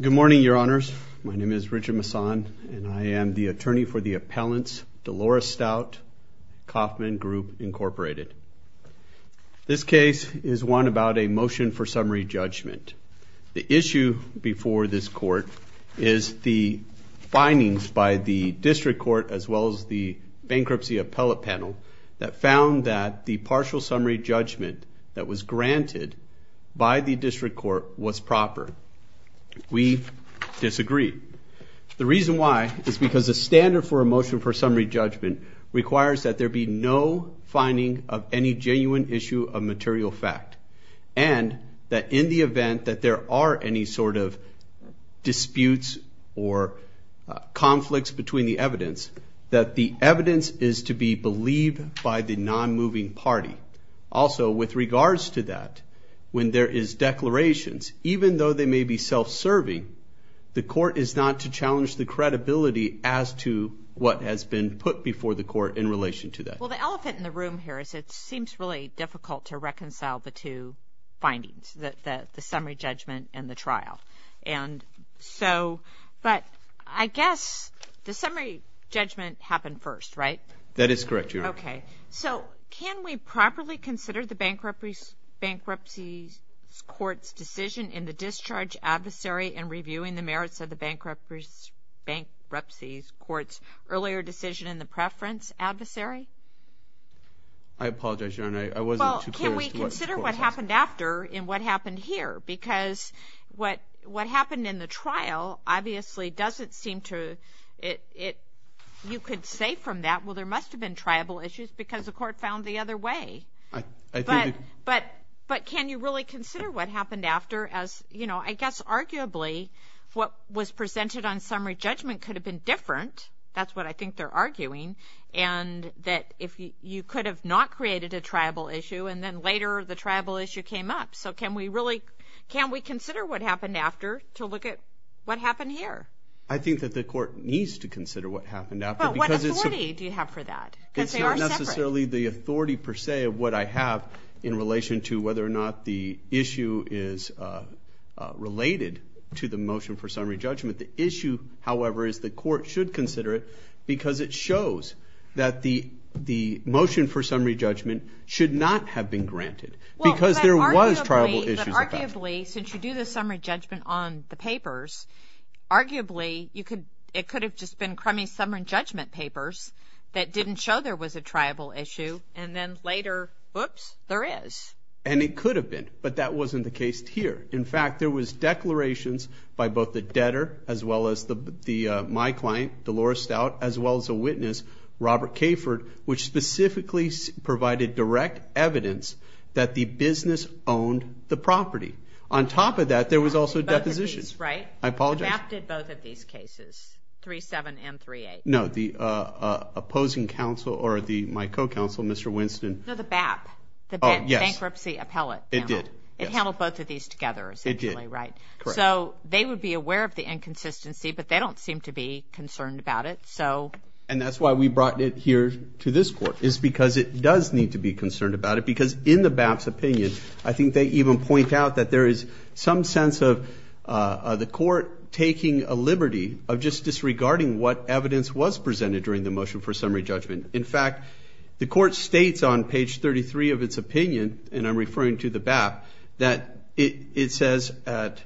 Good morning, your honors. My name is Richard Masson, and I am the attorney for the appellants, Dolores Stout, Kauffman Group, Incorporated. This case is one about a motion for summary judgment. The issue before this court is the findings by the district court as well as the bankruptcy appellate panel that found that the partial summary judgment that was granted by the district court was proper. We disagree. The reason why is because the standard for a motion for summary judgment requires that there be no finding of any genuine issue of material fact, and that in the event that there are any sort of disputes or conflicts between the evidence, that the evidence is to be believed by the non-moving party. Also, with regards to that, when there is declarations, even though they may be self-serving, the court is not to challenge the credibility as to what has been put before the court in relation to that. Well, the elephant in the room here is it seems really difficult to reconcile the two The summary judgment happened first, right? That is correct, Your Honor. Okay. So, can we properly consider the bankruptcy court's decision in the discharge adversary in reviewing the merits of the bankruptcy court's earlier decision in the preference adversary? I apologize, Your Honor. I wasn't too clear as to what the court said. Well, can we consider what happened after in what happened here? Because what happened in the trial obviously doesn't seem to, you could say from that, well, there must have been tribal issues because the court found the other way. But can you really consider what happened after as, you know, I guess arguably what was presented on summary judgment could have been different. That's what I think they're arguing. And that you could have not created a tribal issue, and then later the tribal issue came up. So, can we consider what happened after to look at what happened here? I think that the court needs to consider what happened after. But what authority do you have for that? Because they are separate. It's not necessarily the authority per se of what I have in relation to whether or not the issue is related to the motion for summary judgment. The issue, however, is the court should consider it because it shows that the motion for summary judgment should not have been granted. Well, but arguably. Because there was tribal issues. There was tribal issues with that. Arguably, since you do the summary judgment on the papers, arguably you could, it could have just been crummy summary judgment papers that didn't show there was a tribal issue and then later, oops, there is. And it could have been, but that wasn't the case here. In fact, there was declarations by both the debtor as well as the, my client, Dolores Stout, as well as a witness, Robert Kayford, which specifically provided direct evidence that the business owned the property. On top of that, there was also a deposition. Both of these, right? I apologize. The BAP did both of these cases, 3-7 and 3-8. No, the opposing counsel or my co-counsel, Mr. Winston. No, the BAP. Oh, yes. The Bankruptcy Appellate. It did. It handled both of these together, essentially. It did. Right. Correct. So, they would be aware of the inconsistency, but they don't seem to be concerned about it. And that's why we brought it here to this court, is because it does need to be concerned about it. Because in the BAP's opinion, I think they even point out that there is some sense of the court taking a liberty of just disregarding what evidence was presented during the motion for summary judgment. In fact, the court states on page 33 of its opinion, and I'm referring to the BAP, that it says at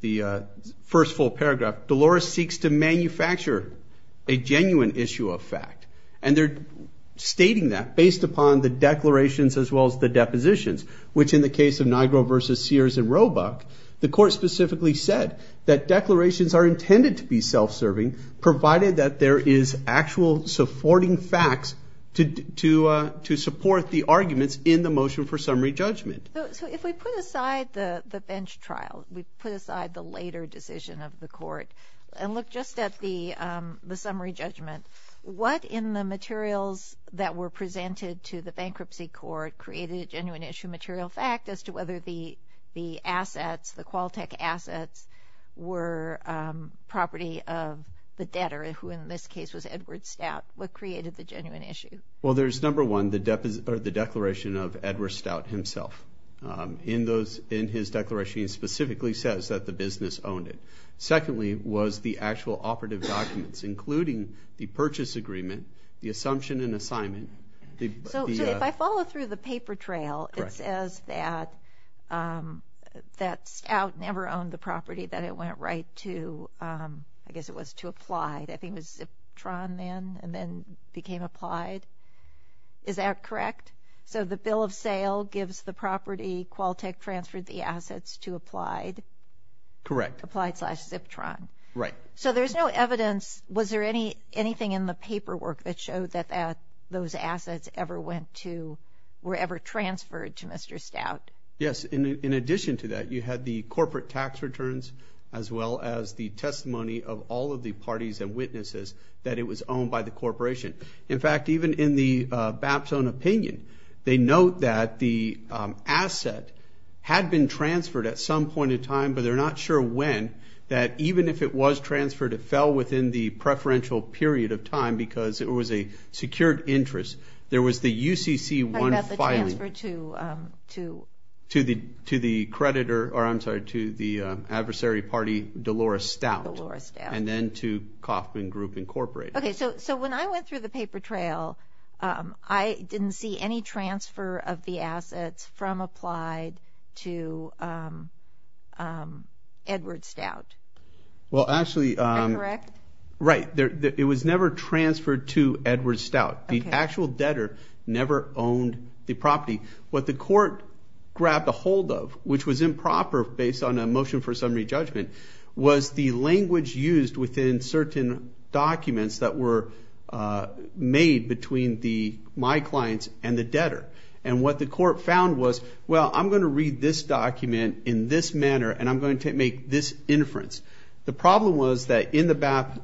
the first full paragraph, Dolores seeks to manufacture a genuine issue of fact. And they're stating that based upon the declarations as well as the depositions, which in the case of Nigro versus Sears and Roebuck, the court specifically said that declarations are intended to be self-serving, provided that there is actual supporting facts to support the arguments in the motion for summary judgment. So, if we put aside the bench trial, we put aside the later decision of the court, and look just at the summary judgment, what in the materials that were presented to the bankruptcy court created a genuine issue of material fact as to whether the assets, the Qualtech assets, were property of the debtor, who in this case was Edward Stout? What created the genuine issue? Well, there's number one, the declaration of Edward Stout himself. In his declaration, he specifically says that the business owned it. Secondly was the actual operative documents, including the purchase agreement, the assumption and assignment. So, if I follow through the paper trail, it says that Stout never owned the property, that it went right to, I guess it was to apply. I think it was Ziptron then, and then became applied. Is that correct? So, the bill of sale gives the property, Qualtech transferred the assets to Applied? Correct. Applied slash Ziptron. Right. So, there's no evidence, was there anything in the paperwork that showed that those assets ever went to, were ever transferred to Mr. Stout? Yes. In addition to that, you had the corporate tax returns, as well as the testimony of all of the parties and witnesses that it was owned by the corporation. In fact, even in the BAPT's own opinion, they note that the asset had been transferred at some point in time, but they're not sure when, that even if it was transferred, it fell within the preferential period of time because it was a secured interest. There was the UCC1 filing. Are you talking about the transfer to? To the creditor, or I'm sorry, to the adversary party, Dolores Stout. Dolores Stout. And then to Kauffman Group, Incorporated. Okay, so when I went through the paper trail, I didn't see any transfer of the assets from Applied to Edward Stout. Well, actually- Is that correct? Right. It was never transferred to Edward Stout. The actual debtor never owned the property. What the court grabbed ahold of, which was improper based on a motion for summary judgment, was the language used within certain documents that were made between my clients and the debtor. And what the court found was, well, I'm going to read this document in this manner, and I'm going to make this inference. The problem was that in the BAPT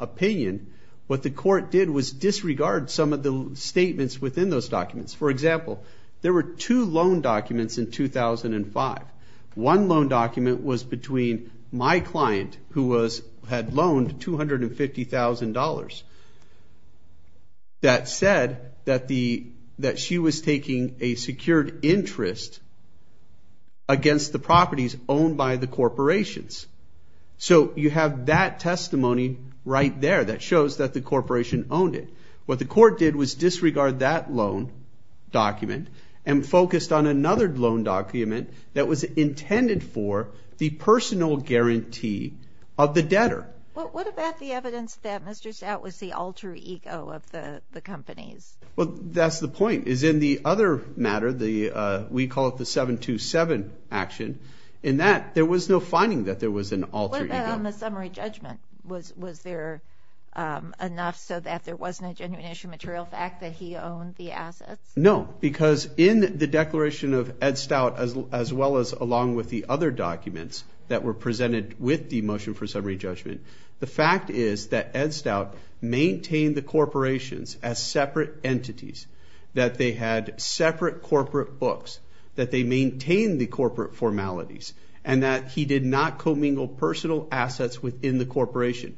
opinion, what the court did was disregard some of the statements within those documents. For example, there were two loan documents in 2005. One loan document was between my client, who had loaned $250,000, that said that she was taking a secured interest against the properties owned by the corporations. So you have that testimony right there that shows that the corporation owned it. What the court did was disregard that loan document and focused on another loan document that was intended for the personal guarantee of the debtor. What about the evidence that Mr. Stout was the alter ego of the companies? Well, that's the point, is in the other matter, we call it the 727 action, in that there was no finding that there was an alter ego. What about on the summary judgment? Was there enough so that there wasn't a genuine issue material fact that he owned the assets? No, because in the declaration of Ed Stout, as well as along with the other documents that were presented with the motion for summary judgment, the fact is that Ed Stout maintained the corporations as separate entities, that they had separate corporate books, that they maintained the corporate formalities, and that he did not commingle personal assets within the corporation.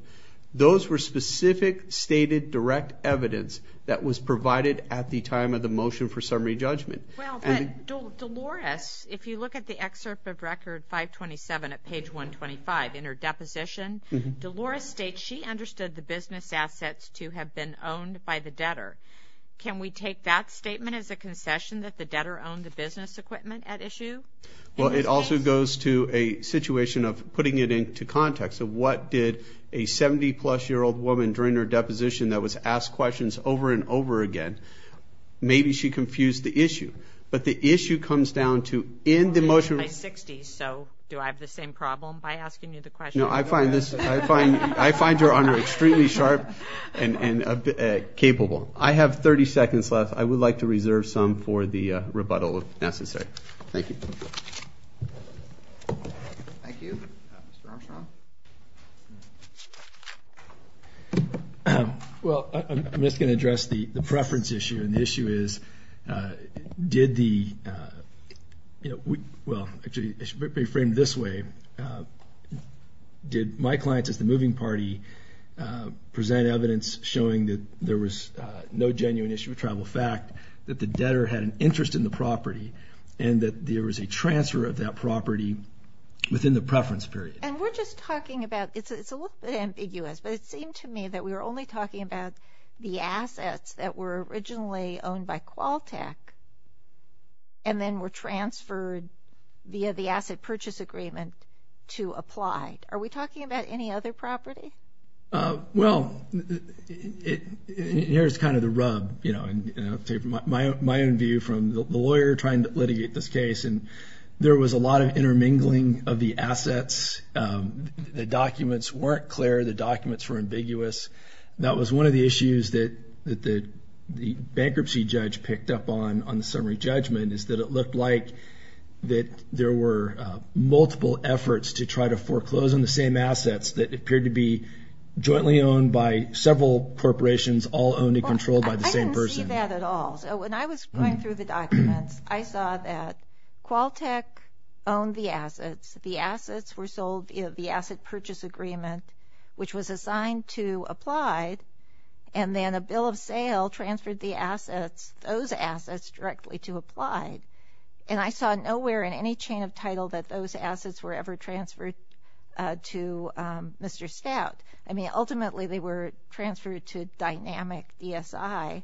Those were specific, stated, direct evidence that was provided at the time of the motion for summary judgment. Well, but Dolores, if you look at the excerpt of Record 527 at page 125 in her deposition, Dolores states she understood the business assets to have been owned by the debtor. Can we take that statement as a concession that the debtor owned the business equipment at issue? Well, it also goes to a situation of putting it into context of what did a 70-plus-year-old woman during her deposition that was asked questions over and over again, maybe she confused the issue. But the issue comes down to in the motion... I'm 60, so do I have the same problem by asking you the question? No, I find this, I find your honor extremely sharp and capable. I have 30 seconds left. I would like to reserve some for the rebuttal if necessary. Thank you. Thank you. Mr. Armstrong? Well, I'm just going to address the preference issue, and the issue is, did the... well, actually, it should be framed this way. Did my clients as the moving party present evidence showing that there was no genuine issue of tribal fact, that the debtor had an interest in the property, and that there was a transfer of that property within the preference period? And we're just talking about... it's a little bit ambiguous, but it seemed to me that we were only talking about the assets that were originally owned by Qualtech, and then were transferred via the asset purchase agreement to apply. Are we talking about any other property? Well, here's kind of the rub, and I'll take my own view from the lawyer trying to litigate this case, and there was a lot of intermingling of the assets. The documents weren't clear. The documents were ambiguous. That was one of the issues that the bankruptcy judge picked up on, on the summary judgment, is that it looked like that there were multiple efforts to try to foreclose on the same assets that appeared to be jointly owned by several corporations, all owned and controlled by the same person. Well, I didn't see that at all. So when I was going through the documents, I saw that Qualtech owned the assets. The assets were sold via the asset purchase agreement, which was assigned to Applied, and then a bill of sale transferred the assets, those assets, directly to Applied. And I saw nowhere in any chain of title that those assets were ever transferred to Mr. Stout. I mean, ultimately, they were transferred to Dynamic DSI,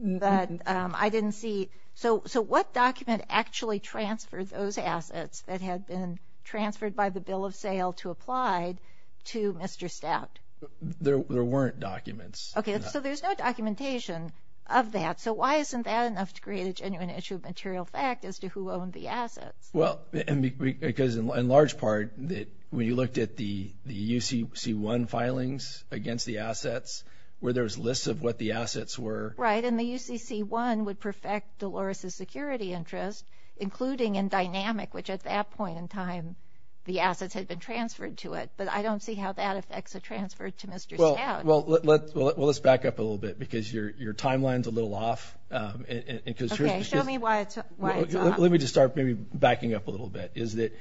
but I didn't see. So what document actually transferred those assets that had been transferred by the bill of sale to Applied to Mr. Stout? There weren't documents. Okay. So there's no documentation of that. So why isn't that enough to create a genuine issue of material fact as to who owned the assets? Well, because in large part, when you looked at the UCC-1 filings against the assets, where there's lists of what the assets were. Right. And the UCC-1 would perfect Dolores' security interest, including in Dynamic, which at that point in time, the assets had been transferred to it, but I don't see how that affects a transfer to Mr. Stout. Well, let's back up a little bit, because your timeline's a little off. Okay. Show me why it's off. Let me just start maybe backing up a little bit, is that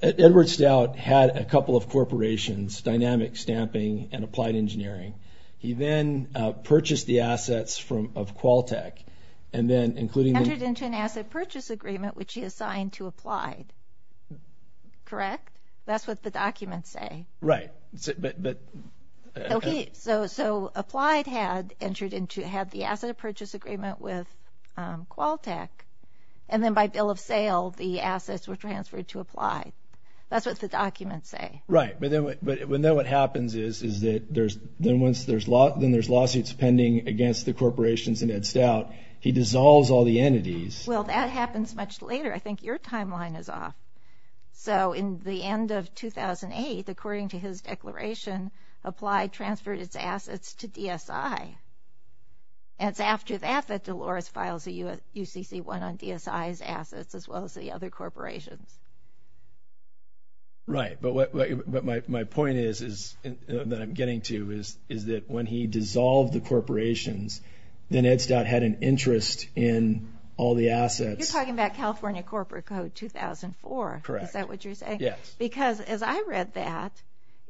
Edward Stout had a couple of corporations, Dynamic, Stamping, and Applied Engineering. He then purchased the assets of Qualtech, and then, including the- Entered into an asset purchase agreement, which he assigned to Applied, correct? That's what the documents say. Right. But- Okay. So, Applied had entered into, had the asset purchase agreement with Qualtech, and then by bill of sale, the assets were transferred to Applied. That's what the documents say. Right. But then what happens is that there's, then once there's lawsuits pending against the corporations and Ed Stout, he dissolves all the entities. Well, that happens much later. I think your timeline is off. So, in the end of 2008, according to his declaration, Applied transferred its assets to DSI. And it's after that, that Dolores files a UCC-1 on DSI's assets, as well as the other corporations. Right. But what my point is, that I'm getting to, is that when he dissolved the corporations, then Ed Stout had an interest in all the assets- You're talking about California Corporate Code 2004. Correct. Is that what you're saying? Yes. Because, as I read that,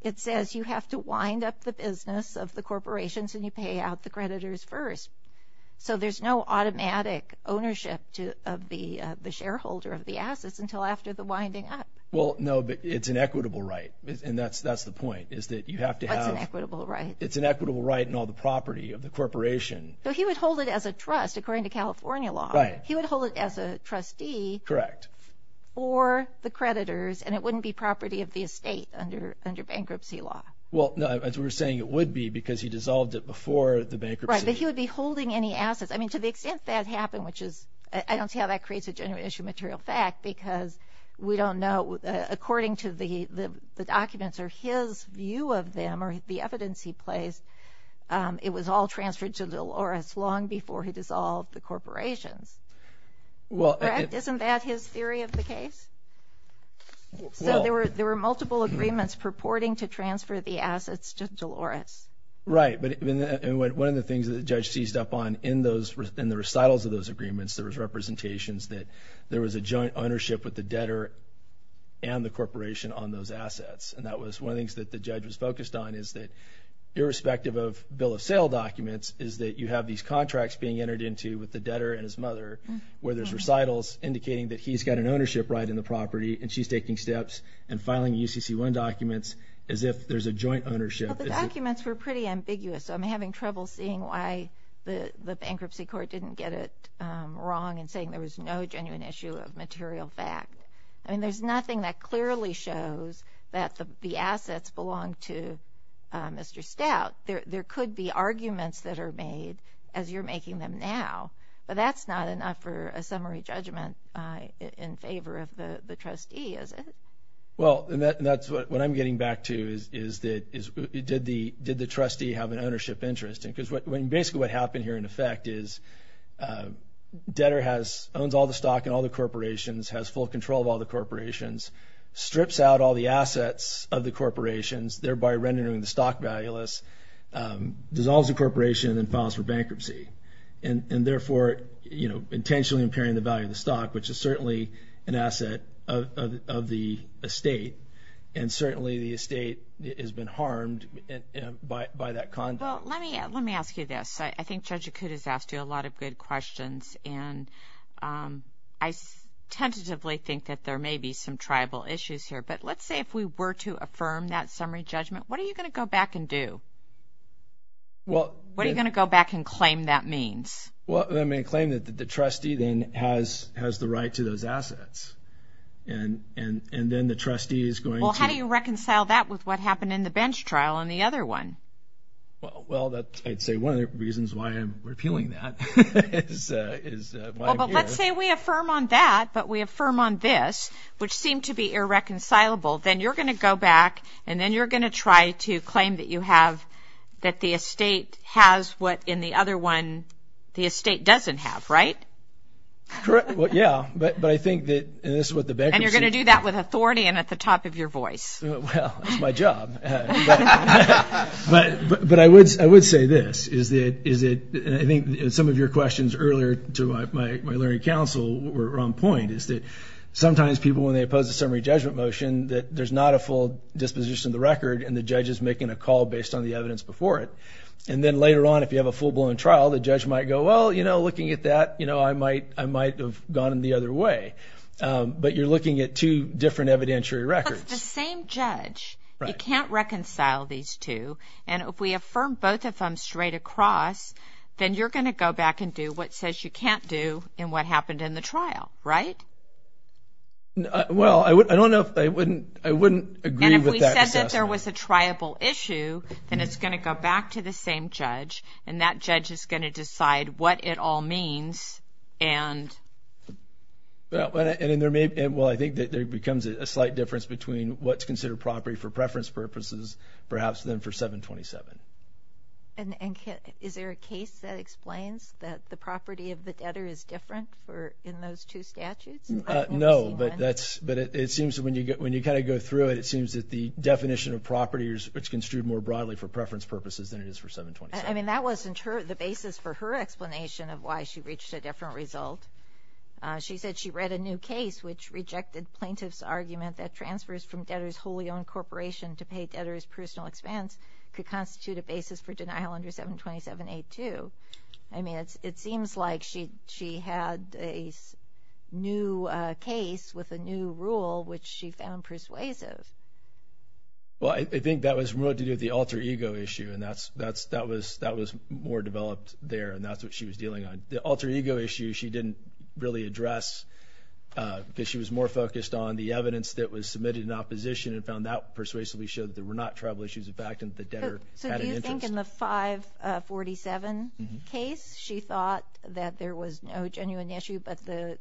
it says you have to wind up the business of the corporations and you pay out the creditors first. So, there's no automatic ownership of the shareholder of the assets until after the winding up. Well, no. But it's an equitable right. And that's the point, is that you have to have- What's an equitable right? It's an equitable right in all the property of the corporation. So, he would hold it as a trust, according to California law. Right. He would hold it as a trustee- Correct. For the creditors, and it wouldn't be property of the estate under bankruptcy law. Well, no. As we were saying, it would be, because he dissolved it before the bankruptcy. Right. But he would be holding any assets. I mean, to the extent that happened, which is- I don't see how that creates a genuine issue of material fact, because we don't know. According to the documents, or his view of them, or the evidence he placed, it was all Well- Correct? Isn't that his theory of the case? Well- So, there were multiple agreements purporting to transfer the assets to Dolores. Right. But one of the things that the judge seized up on in the recitals of those agreements, there was representations that there was a joint ownership with the debtor and the corporation on those assets. And that was one of the things that the judge was focused on, is that irrespective of bill of sale documents, is that you have these contracts being entered into with the debtor and his mother, where there's recitals indicating that he's got an ownership right in the property, and she's taking steps and filing UCC-1 documents, as if there's a joint ownership. Well, the documents were pretty ambiguous, so I'm having trouble seeing why the bankruptcy court didn't get it wrong in saying there was no genuine issue of material fact. I mean, there's nothing that clearly shows that the assets belong to Mr. Stout. There could be arguments that are made, as you're making them now, but that's not enough for a summary judgment in favor of the trustee, is it? Well, and that's what I'm getting back to, is did the trustee have an ownership interest? Because basically what happened here, in effect, is debtor owns all the stock in all the corporations, has full control of all the corporations, strips out all the assets of the corporations, thereby rendering the stock valueless, dissolves the corporation, and then files for bankruptcy. And therefore, you know, intentionally impairing the value of the stock, which is certainly an asset of the estate, and certainly the estate has been harmed by that conduct. Well, let me ask you this. I think Judge Akut has asked you a lot of good questions, and I tentatively think that there may be some tribal issues here. But let's say if we were to affirm that summary judgment, what are you going to go back and do? What are you going to go back and claim that means? Well, I'm going to claim that the trustee then has the right to those assets. And then the trustee is going to... Well, how do you reconcile that with what happened in the bench trial and the other one? Well, I'd say one of the reasons why I'm repealing that is... Well, but let's say we affirm on that, but we affirm on this, which seemed to be irreconcilable. Then you're going to go back, and then you're going to try to claim that you have... that the estate has what in the other one the estate doesn't have, right? Correct. Well, yeah. But I think that... And this is what the bankruptcy... And you're going to do that with authority and at the top of your voice. Well, that's my job. But I would say this, is that... And I think some of your questions earlier to my learning council were on point, is that sometimes people, when they oppose a summary judgment motion, that there's not a full disposition of the record, and the judge is making a call based on the evidence before it. And then later on, if you have a full-blown trial, the judge might go, well, you know, looking at that, I might have gone the other way. But you're looking at two different evidentiary records. But if it's the same judge, you can't reconcile these two. And if we affirm both of them straight across, then you're going to go back and do what says you can't do and what happened in the trial, right? Well, I don't know if I wouldn't agree with that assessment. And if we said that there was a triable issue, then it's going to go back to the same judge, and that judge is going to decide what it all means and... Well, I think that there becomes a slight difference between what's considered property for preference purposes, perhaps than for 727. And is there a case that explains that the property of the debtor is different in those two statutes? No, but it seems when you kind of go through it, it seems that the definition of property is construed more broadly for preference purposes than it is for 727. I mean, that wasn't the basis for her explanation of why she reached a different result. She said she read a new case which rejected plaintiff's argument that transfers from debtor's wholly owned corporation to pay debtor's personal expense could constitute a basis for denial under 727A2. I mean, it seems like she had a new case with a new rule, which she found persuasive. Well, I think that was more to do with the alter ego issue, and that was more developed there, and that's what she was dealing on. The alter ego issue she didn't really address because she was more focused on the evidence that was submitted in opposition and found that persuasively showed that there were not tribal issues in fact and that the debtor had an interest. So do you think in the 547 case she thought that there was no genuine issue but the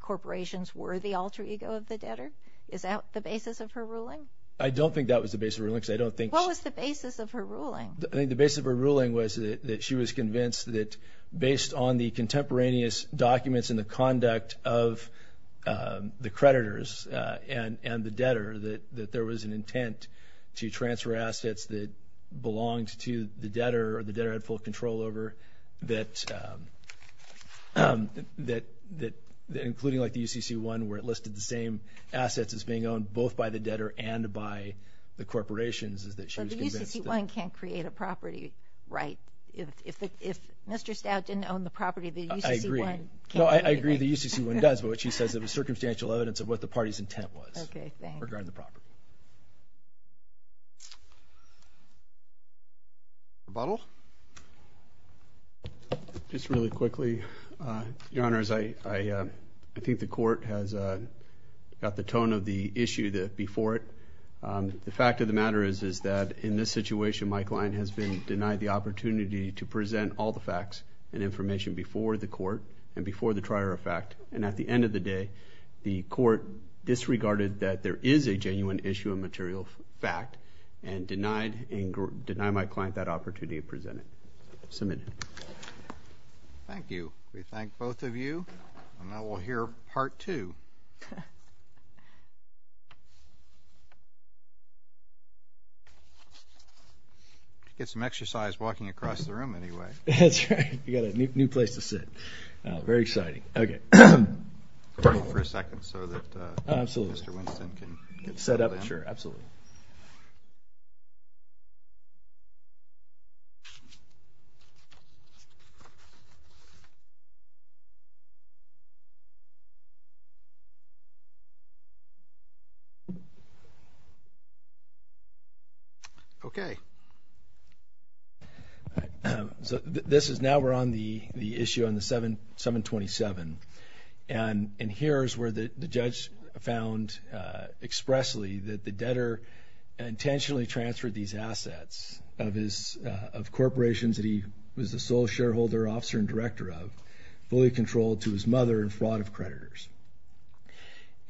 corporations were the alter ego of the debtor? Is that the basis of her ruling? I don't think that was the basis of her ruling because I don't think... What was the basis of her ruling? I think the basis of her ruling was that she was convinced that based on the contemporaneous documents and the conduct of the creditors and the debtor that there was an intent to transfer assets that belonged to the debtor or the debtor had full control over that including like the UCC-1 where it listed the same assets as being owned both by the debtor and by the corporations is that she was convinced that... Mr. Stout didn't own the property of the UCC-1. I agree. No, I agree the UCC-1 does but what she says it was circumstantial evidence of what the party's intent was regarding the property. Rebuttal. Just really quickly, Your Honors, I think the court has got the tone of the issue before it. The fact of the matter is that in this situation, Mike Lyon, has been denied the opportunity to present all the facts and information before the court and before the trier of fact and at the end of the day, the court disregarded that there is a genuine issue of material fact and denied my client that opportunity to present it. Submit. Thank you. We thank both of you and now we'll hear Part 2. Get some exercise walking across the room anyway. That's right. We've got a new place to sit. Very exciting. Okay. Pardon me for a second so that Mr. Winston can set up. Sure, absolutely. Okay. So this is now we're on the issue on the 727 and here is where the judge found expressly that the debtor intentionally transferred these assets of corporations that he was the sole shareholder, officer, and director of, fully controlled to his mother in fraud of creditors.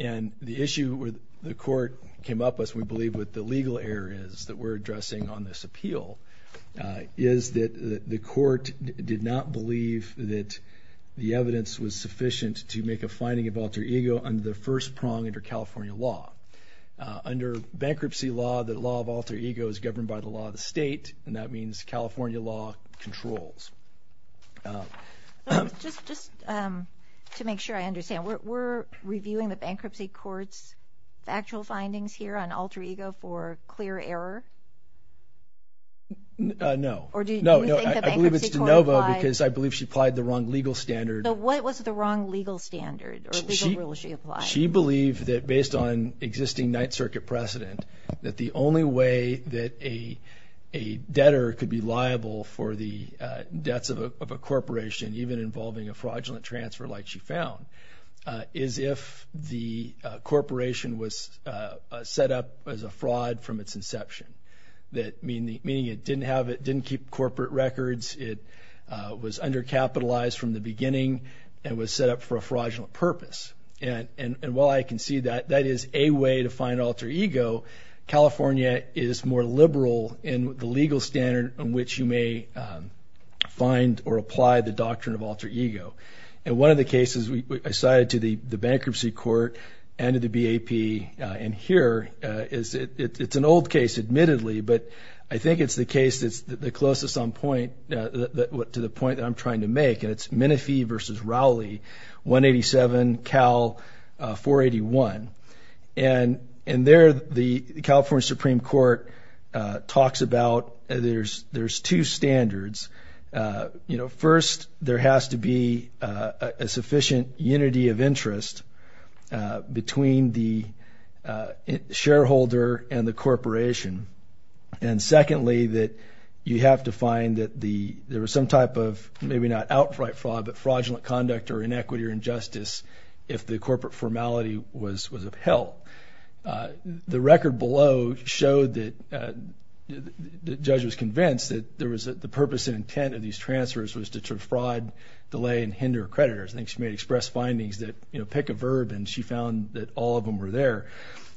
And the issue where the court came up with, we believe, with the legal areas that we're addressing on this appeal is that the court did not believe that the evidence was sufficient to make a finding of alter ego under the first prong under California law. Under bankruptcy law, the law of alter ego is governed by the law of the state, and that means California law controls. Just to make sure I understand, we're reviewing the bankruptcy court's actual findings here on alter ego for clear error? No. Or do you think the bankruptcy court applied? No, I believe it's de novo because I believe she applied the wrong legal standard. So what was the wrong legal standard or legal rule she applied? She believed that based on existing Ninth Circuit precedent that the only way that a debtor could be liable for the debts of a corporation, even involving a fraudulent transfer like she found, is if the corporation was set up as a fraud from its inception, meaning it didn't keep corporate records, it was undercapitalized from the beginning, and was set up for a fraudulent purpose. And while I can see that, that is a way to find alter ego, California is more liberal in the legal standard on which you may find or apply the doctrine of alter ego. And one of the cases I cited to the bankruptcy court and to the BAP in here, it's an old case admittedly, but I think it's the case that's the closest to the point that I'm trying to make, and it's Minifee versus Rowley, 187 Cal 481. And there the California Supreme Court talks about there's two standards. First, there has to be a sufficient unity of interest between the shareholder and the corporation. And secondly, that you have to find that there was some type of, maybe not outright fraud, but fraudulent conduct or inequity or injustice if the corporate formality was upheld. The record below showed that the judge was convinced that the purpose and intent of these transfers was to defraud, delay, and hinder creditors. I think she may have expressed findings that pick a verb and she found that all of them were there.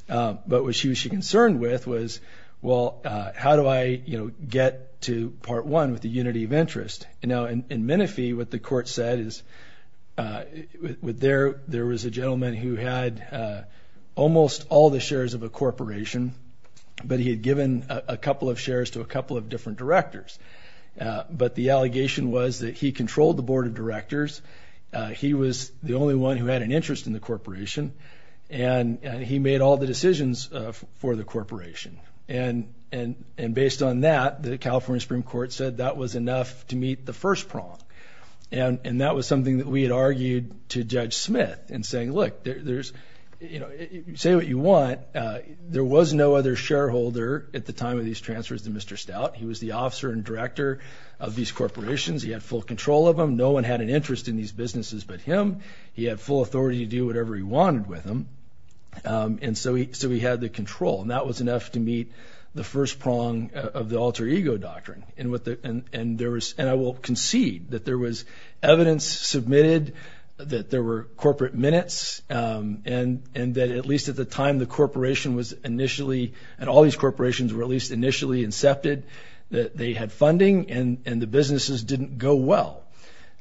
But what she was concerned with was, well, how do I get to part one with the unity of interest? And now in Minifee, what the court said is, there was a gentleman who had almost all the shares of a corporation, but he had given a couple of shares to a couple of different directors. But the allegation was that he controlled the board of directors, he was the only one who had an interest in the corporation, and he made all the decisions for the corporation. And based on that, the California Supreme Court said that was enough to meet the first prong. And that was something that we had argued to Judge Smith in saying, look, say what you want, there was no other shareholder at the time of these transfers than Mr. Stout. He was the officer and director of these corporations. He had full control of them. No one had an interest in these businesses but him. He had full authority to do whatever he wanted with them. And so he had the control. And that was enough to meet the first prong of the alter ego doctrine. And I will concede that there was evidence submitted that there were corporate minutes, and that at least at the time the corporation was initially and all these corporations were at least initially incepted, that they had funding and the businesses didn't go well.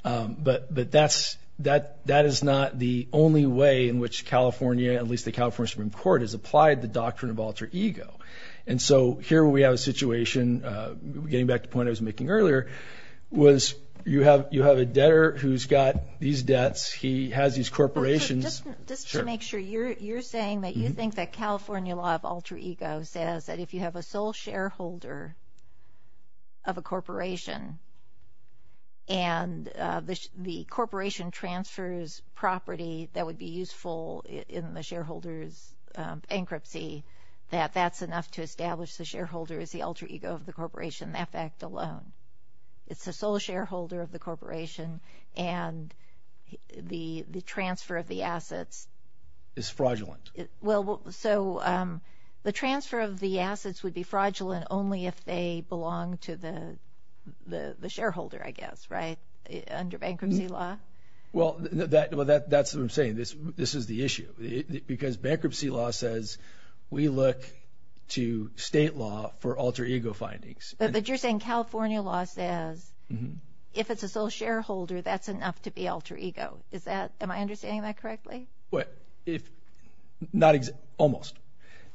But that is not the only way in which California, at least the California Supreme Court, has applied the doctrine of alter ego. And so here we have a situation, getting back to the point I was making earlier, was you have a debtor who's got these debts. He has these corporations. Just to make sure, you're saying that you think that California law of alter ego says that if you have a sole shareholder of a corporation and the corporation transfers property that would be useful in the shareholder's bankruptcy, that that's enough to establish the shareholder is the alter ego of the corporation. That fact alone. It's the sole shareholder of the corporation and the transfer of the assets. Is fraudulent. Well, so the transfer of the assets would be fraudulent only if they belonged to the shareholder, I guess, right? Under bankruptcy law? Well, that's what I'm saying. This is the issue. Because bankruptcy law says we look to state law for alter ego findings. But you're saying California law says if it's a sole shareholder, that's enough to be alter ego. Am I understanding that correctly? Almost.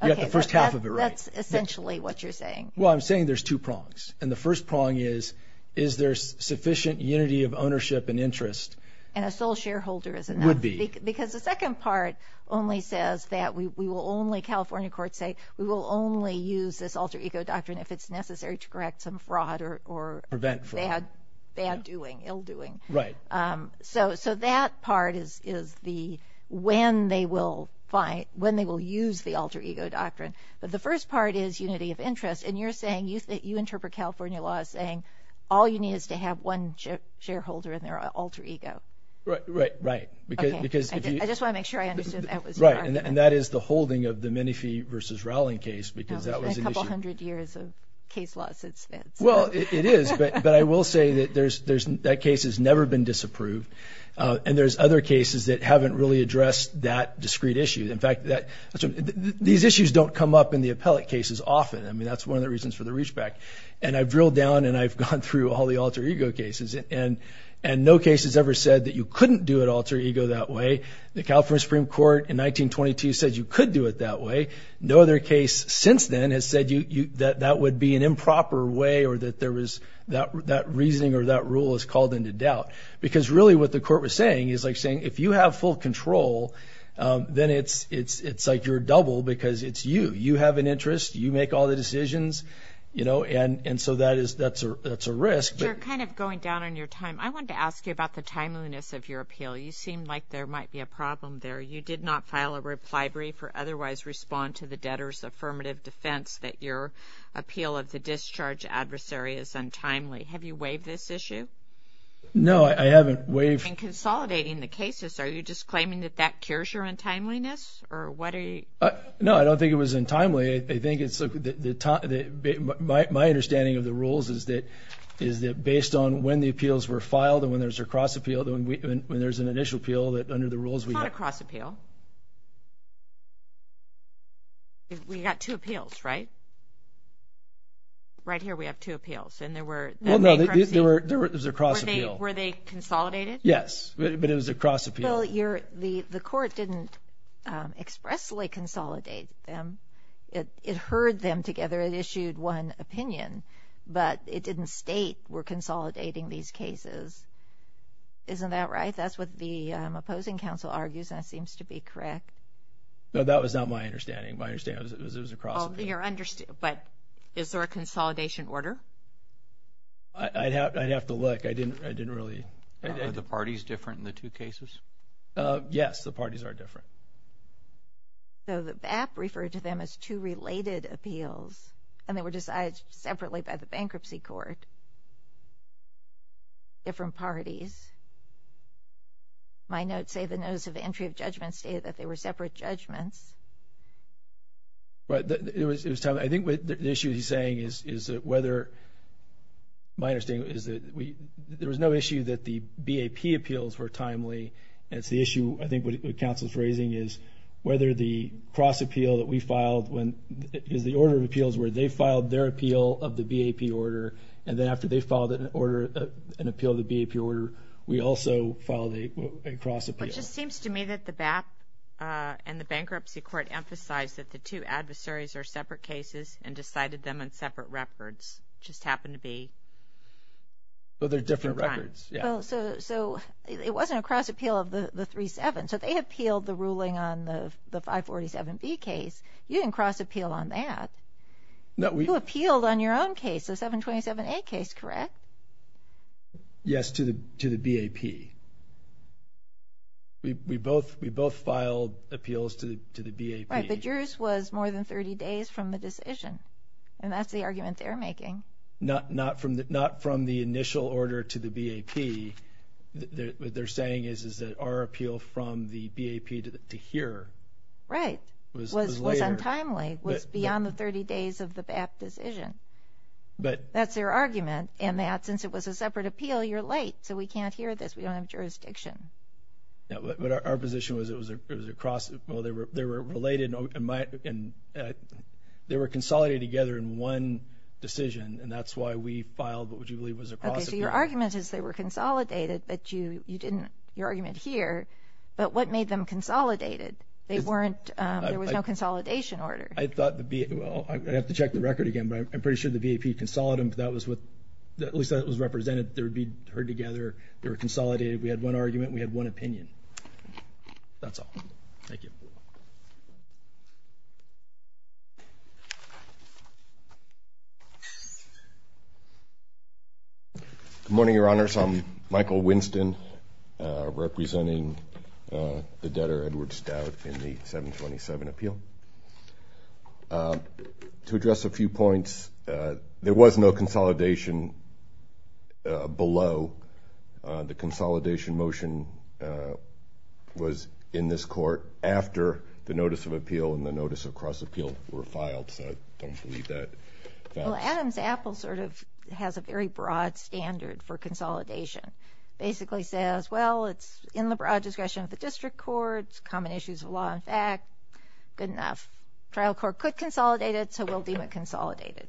You got the first half of it right. That's essentially what you're saying. Well, I'm saying there's two prongs. And the first prong is, is there sufficient unity of ownership and interest? And a sole shareholder is enough. Would be. Because the second part only says that we will only, California courts say we will only use this alter ego doctrine if it's necessary to correct some fraud or bad doing, ill doing. Right. So that part is the when they will use the alter ego doctrine. But the first part is unity of interest. And you're saying, you interpret California law as saying all you need is to have one shareholder and their alter ego. Right. I just want to make sure I understood that. Right. And that is the holding of the Minifee versus Rowling case because that was an issue. That was a couple hundred years of case law since then. Well, it is. But I will say that that case has never been disapproved. And there's other cases that haven't really addressed that discrete issue. In fact, these issues don't come up in the appellate cases often. I mean, that's one of the reasons for the reachback. And I've drilled down and I've gone through all the alter ego cases. And no case has ever said that you couldn't do an alter ego that way. The California Supreme Court in 1922 said you could do it that way. No other case since then has said that that would be an improper way or that there was that reasoning or that rule is called into doubt. Because really what the court was saying is like saying if you have full control, then it's like you're double because it's you. You have an interest. You make all the decisions. And so that's a risk. You're kind of going down on your time. I wanted to ask you about the timeliness of your appeal. You seemed like there might be a problem there. You did not file a reply brief or otherwise respond to the debtor's affirmative defense that your appeal of the discharge adversary is untimely. Have you waived this issue? No, I haven't waived. In consolidating the cases, are you just claiming that that cures your untimeliness? No, I don't think it was untimely. I think it's the time. My understanding of the rules is that based on when the appeals were filed and when there's a cross appeal, when there's an initial appeal, that under the rules we have. It's not a cross appeal. We got two appeals, right? Right here we have two appeals. And there were... Well, no, there was a cross appeal. Were they consolidated? Yes, but it was a cross appeal. Well, the court didn't expressly consolidate them. It heard them together. It issued one opinion, but it didn't state we're consolidating these cases. Isn't that right? That's what the opposing counsel argues, and that seems to be correct. No, that was not my understanding. My understanding was it was a cross appeal. But is there a consolidation order? I'd have to look. I didn't really... Are the parties different in the two cases? Yes, the parties are different. So the BAP referred to them as two related appeals, and they were decided separately by the bankruptcy court, different parties. My notes say the notice of entry of judgments stated that they were separate judgments. I think the issue he's saying is whether... There was no issue that the BAP appeals were timely. It's the issue I think the counsel's raising is whether the cross appeal that we filed is the order of appeals where they filed their appeal of the BAP order, and then after they filed an appeal of the BAP order, we also filed a cross appeal. It just seems to me that the BAP and the bankruptcy court emphasized that the two adversaries are separate cases and decided them on separate records. It just happened to be... Different records. So it wasn't a cross appeal of the 3-7, so they appealed the ruling on the 547B case. You didn't cross appeal on that. You appealed on your own case, the 727A case, correct? Yes, to the BAP. We both filed appeals to the BAP. Right, but yours was more than 30 days from the decision, and that's the argument they're making. Not from the initial order to the BAP. What they're saying is that our appeal from the BAP to here was later. Right, was untimely, was beyond the 30 days of the BAP decision. That's their argument, and that since it was a separate appeal, you're late, so we can't hear this. We don't have jurisdiction. But our position was it was a cross... They were consolidated together in one decision, and that's why we filed what we believe was a cross appeal. Okay, so your argument is they were consolidated, but you didn't... your argument here. But what made them consolidated? There was no consolidation order. I thought the BAP... Well, I'd have to check the record again, but I'm pretty sure the BAP consolidated them. At least that was represented. They were being heard together. They were consolidated. We had one argument and we had one opinion. That's all. Thank you. Good morning, Your Honors. I'm Michael Winston, representing the debtor Edward Stout in the 727 appeal. To address a few points, there was no consolidation below. The consolidation motion was in this court after the notice of appeal and the notice of cross appeal were filed. Well, Adams Apple sort of has a very broad standard for consolidation. It basically says, well, it's in the broad discretion of the district court, it's common issues of law and fact. Good enough. Trial court could consolidate it, so we'll deem it consolidated.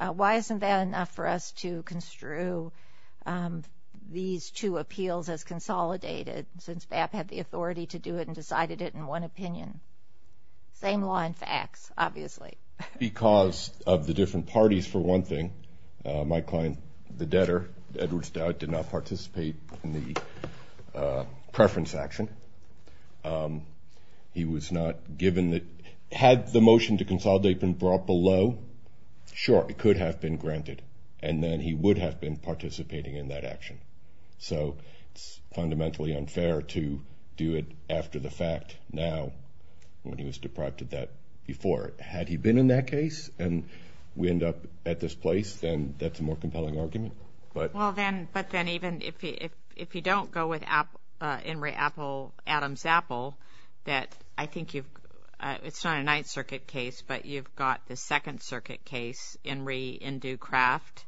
Why isn't that enough for us to construe these two appeals as consolidated, since BAP had the authority to do it and decided it in one opinion? Same law and facts, obviously. Because of the different parties, for one thing. My client, the debtor Edward Stout, did not participate in the preference action. He was not given the... Had the motion to consolidate been brought below, sure, it could have been granted, and then he would have been participating in that action. So it's fundamentally unfair to do it after the fact now when he was deprived of that before. Had he been in that case and we end up at this place, then that's a more compelling argument. Well, then, if you don't go with In re. Adams Apple, that I think you've... It's not a Ninth Circuit case, but you've got the Second Circuit case, in re. in due craft,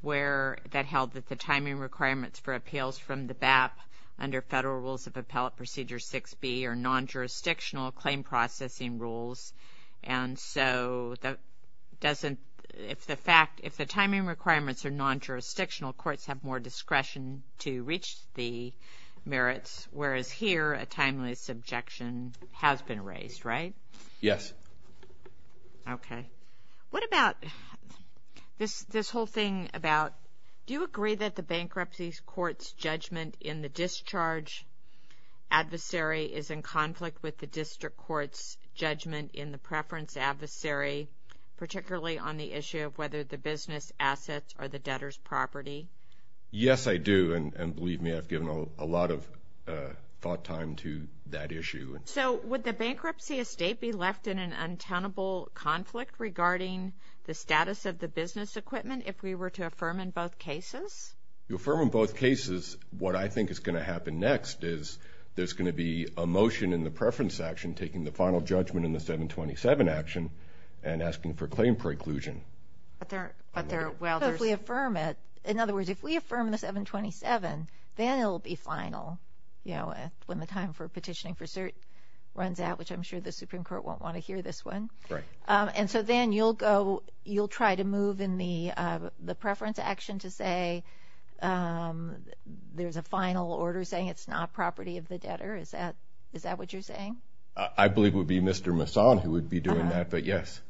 where that held that the timing requirements for appeals from the BAP under federal rules of appellate procedure 6B are non-jurisdictional claim processing rules, and so that doesn't... If the timing requirements are non-jurisdictional, courts have more discretion to reach the merits, whereas here a timeless objection has been raised, right? Yes. Okay. Do you agree that the bankruptcy court's judgment in the discharge adversary is in conflict with the district court's judgment in the preference adversary, particularly on the issue of whether the business assets are the debtor's property? Yes, I do, and believe me, I've given a lot of thought time to that issue. So would the bankruptcy estate be left in an untenable conflict regarding the status of the business equipment if we were to affirm in both cases? If you affirm in both cases, what I think is going to happen next is there's going to be a motion in the preference action taking the final judgment in the 727 action and asking for claim preclusion. But there... Well, there's... So if we affirm it... In other words, if we affirm the 727, then it'll be final, you know, when the time for petitioning for cert runs out, which I'm sure the Supreme Court won't want to hear this one. Right. And so then you'll go... I believe in the preference action to say there's a final order saying it's not property of the debtor. Is that what you're saying? I believe it would be Mr. Masson who would be doing that. But yes,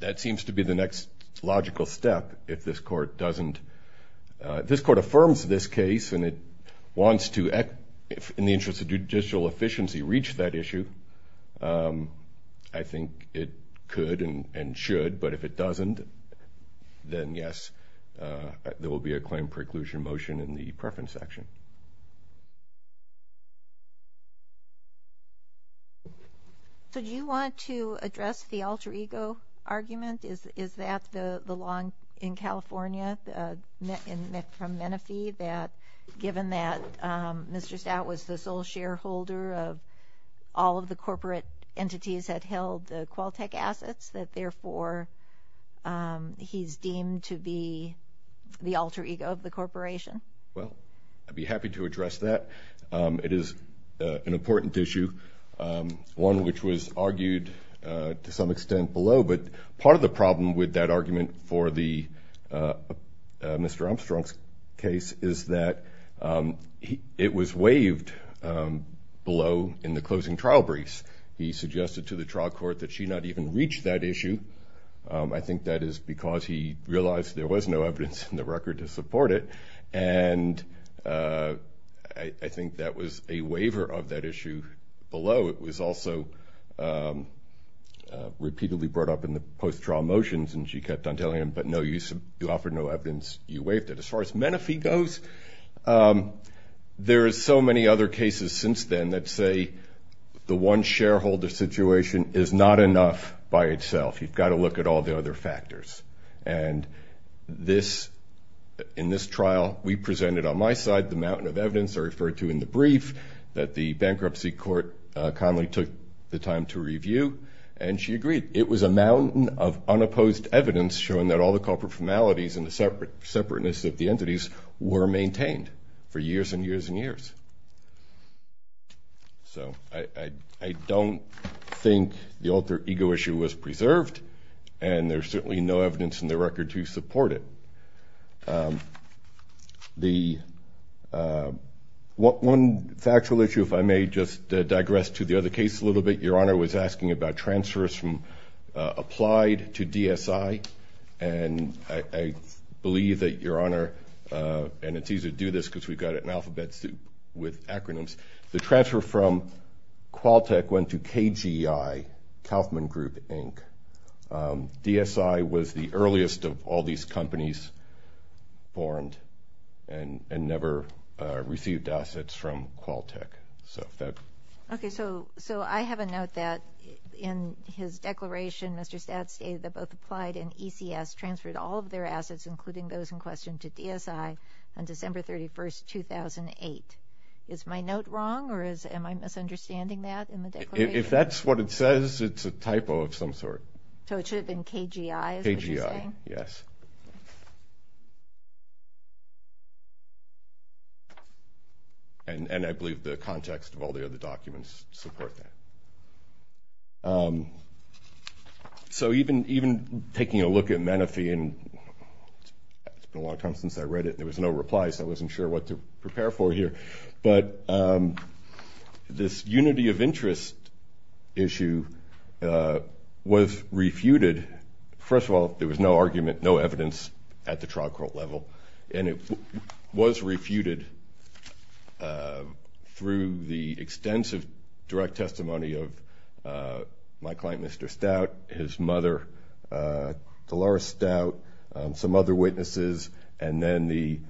that seems to be the next logical step if this court doesn't... If this court affirms this case and it wants to, in the interest of judicial efficiency, reach that issue, I think it could and should. But if it doesn't, then yes, there will be a claim preclusion motion in the preference action. So do you want to address the alter ego argument? Is that the law in California from Menifee that given that Mr. Stout was the sole shareholder of all of the corporate entities that held the Qualtech assets, that therefore he's deemed to be the alter ego of the corporation? Well, I'd be happy to address that. It is an important issue, one which was argued to some extent below. But part of the problem with that argument for Mr. Armstrong's case is that it was waived below in the closing trial briefs. He suggested to the trial court that she not even reach that issue. I think that is because he realized there was no evidence in the record to support it. And I think that was a waiver of that issue below. It was also repeatedly brought up in the post-trial motions, and she kept on telling him, but no, you offered no evidence, you waived it. As far as Menifee goes, there are so many other cases since then that say the one shareholder situation is not enough by itself. You've got to look at all the other factors. And in this trial, we presented on my side the mountain of evidence I referred to in the brief that the bankruptcy court kindly took the time to review, and she agreed. It was a mountain of unopposed evidence and the separateness of the entities were maintained for years and years and years. So I don't think the alter ego issue was preserved, and there's certainly no evidence in the record to support it. One factual issue, if I may just digress to the other case a little bit, Your Honor was asking about transfers from applied to DSI, and I believe that, Your Honor, and it's easy to do this because we've got an alphabet soup with acronyms, the transfer from Qualtech went to KGI, Kauffman Group, Inc. DSI was the earliest of all these companies formed and never received assets from Qualtech. Okay, so I have a note that in his declaration, Mr. Stadt stated that both applied and ECS transferred all of their assets, including those in question, to DSI on December 31, 2008. Is my note wrong, or am I misunderstanding that in the declaration? If that's what it says, it's a typo of some sort. So it should have been KGI, is what you're saying? KGI, yes. And I believe the context of all the other documents support that. So even taking a look at Menefee, and it's been a long time since I read it, and there was no reply, so I wasn't sure what to prepare for here, but this unity of interest issue was refuted. First of all, there was no argument, no evidence at the trial court level, and it was refuted through the extensive direct testimony of my client, Mr. Stadt, his mother, Dolores Stout, some other witnesses, and then the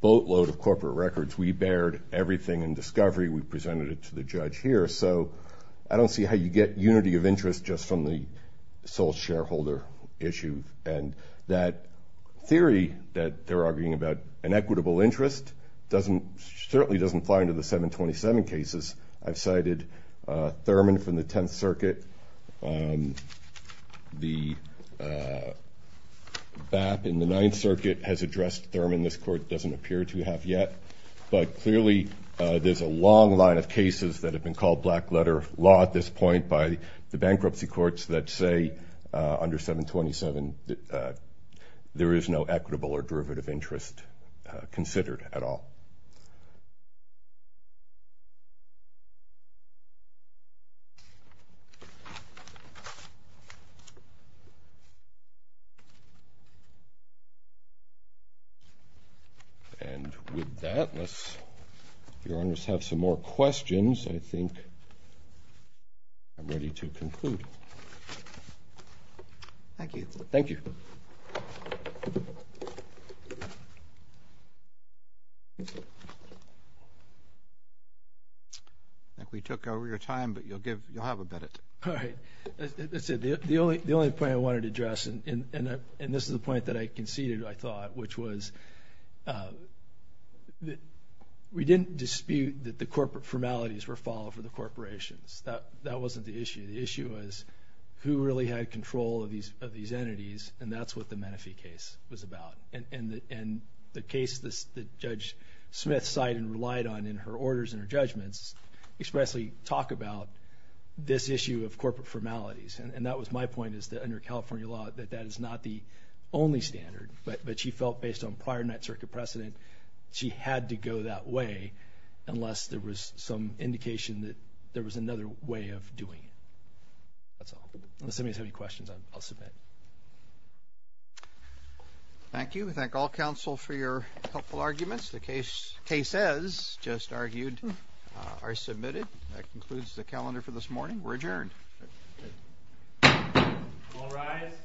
boatload of corporate records. We bared everything in discovery. We presented it to the judge here. So I don't see how you get unity of interest just from the sole shareholder issue, and that theory that they're arguing about an equitable interest certainly doesn't apply to the 727 cases. I've cited Thurman from the Tenth Circuit. The BAP in the Ninth Circuit has addressed Thurman. This court doesn't appear to have yet. But clearly there's a long line of cases that have been called black-letter law at this point by the bankruptcy courts that say under 727 there is no equitable or derivative interest considered at all. And with that, unless Your Honors have some more questions, I think I'm ready to conclude. Thank you. Thank you. Thank you. I think we took over your time, but you'll have a minute. All right. As I said, the only point I wanted to address, and this is the point that I conceded, I thought, which was that we didn't dispute that the corporate formalities were followed for the corporations. That wasn't the issue. The issue was who really had control of these entities, and that's what the Menefee case was about. And the case that Judge Smith cited and relied on in her orders and her judgments expressly talk about this issue of corporate formalities. And that was my point is that under California law that that is not the only standard, but she felt based on prior Ninth Circuit precedent she had to go that way unless there was some indication that there was another way of doing it. That's all. Unless anybody has any questions, I'll submit. Thank you. We thank all counsel for your helpful arguments. The cases just argued are submitted. That concludes the calendar for this morning. We're adjourned. All rise.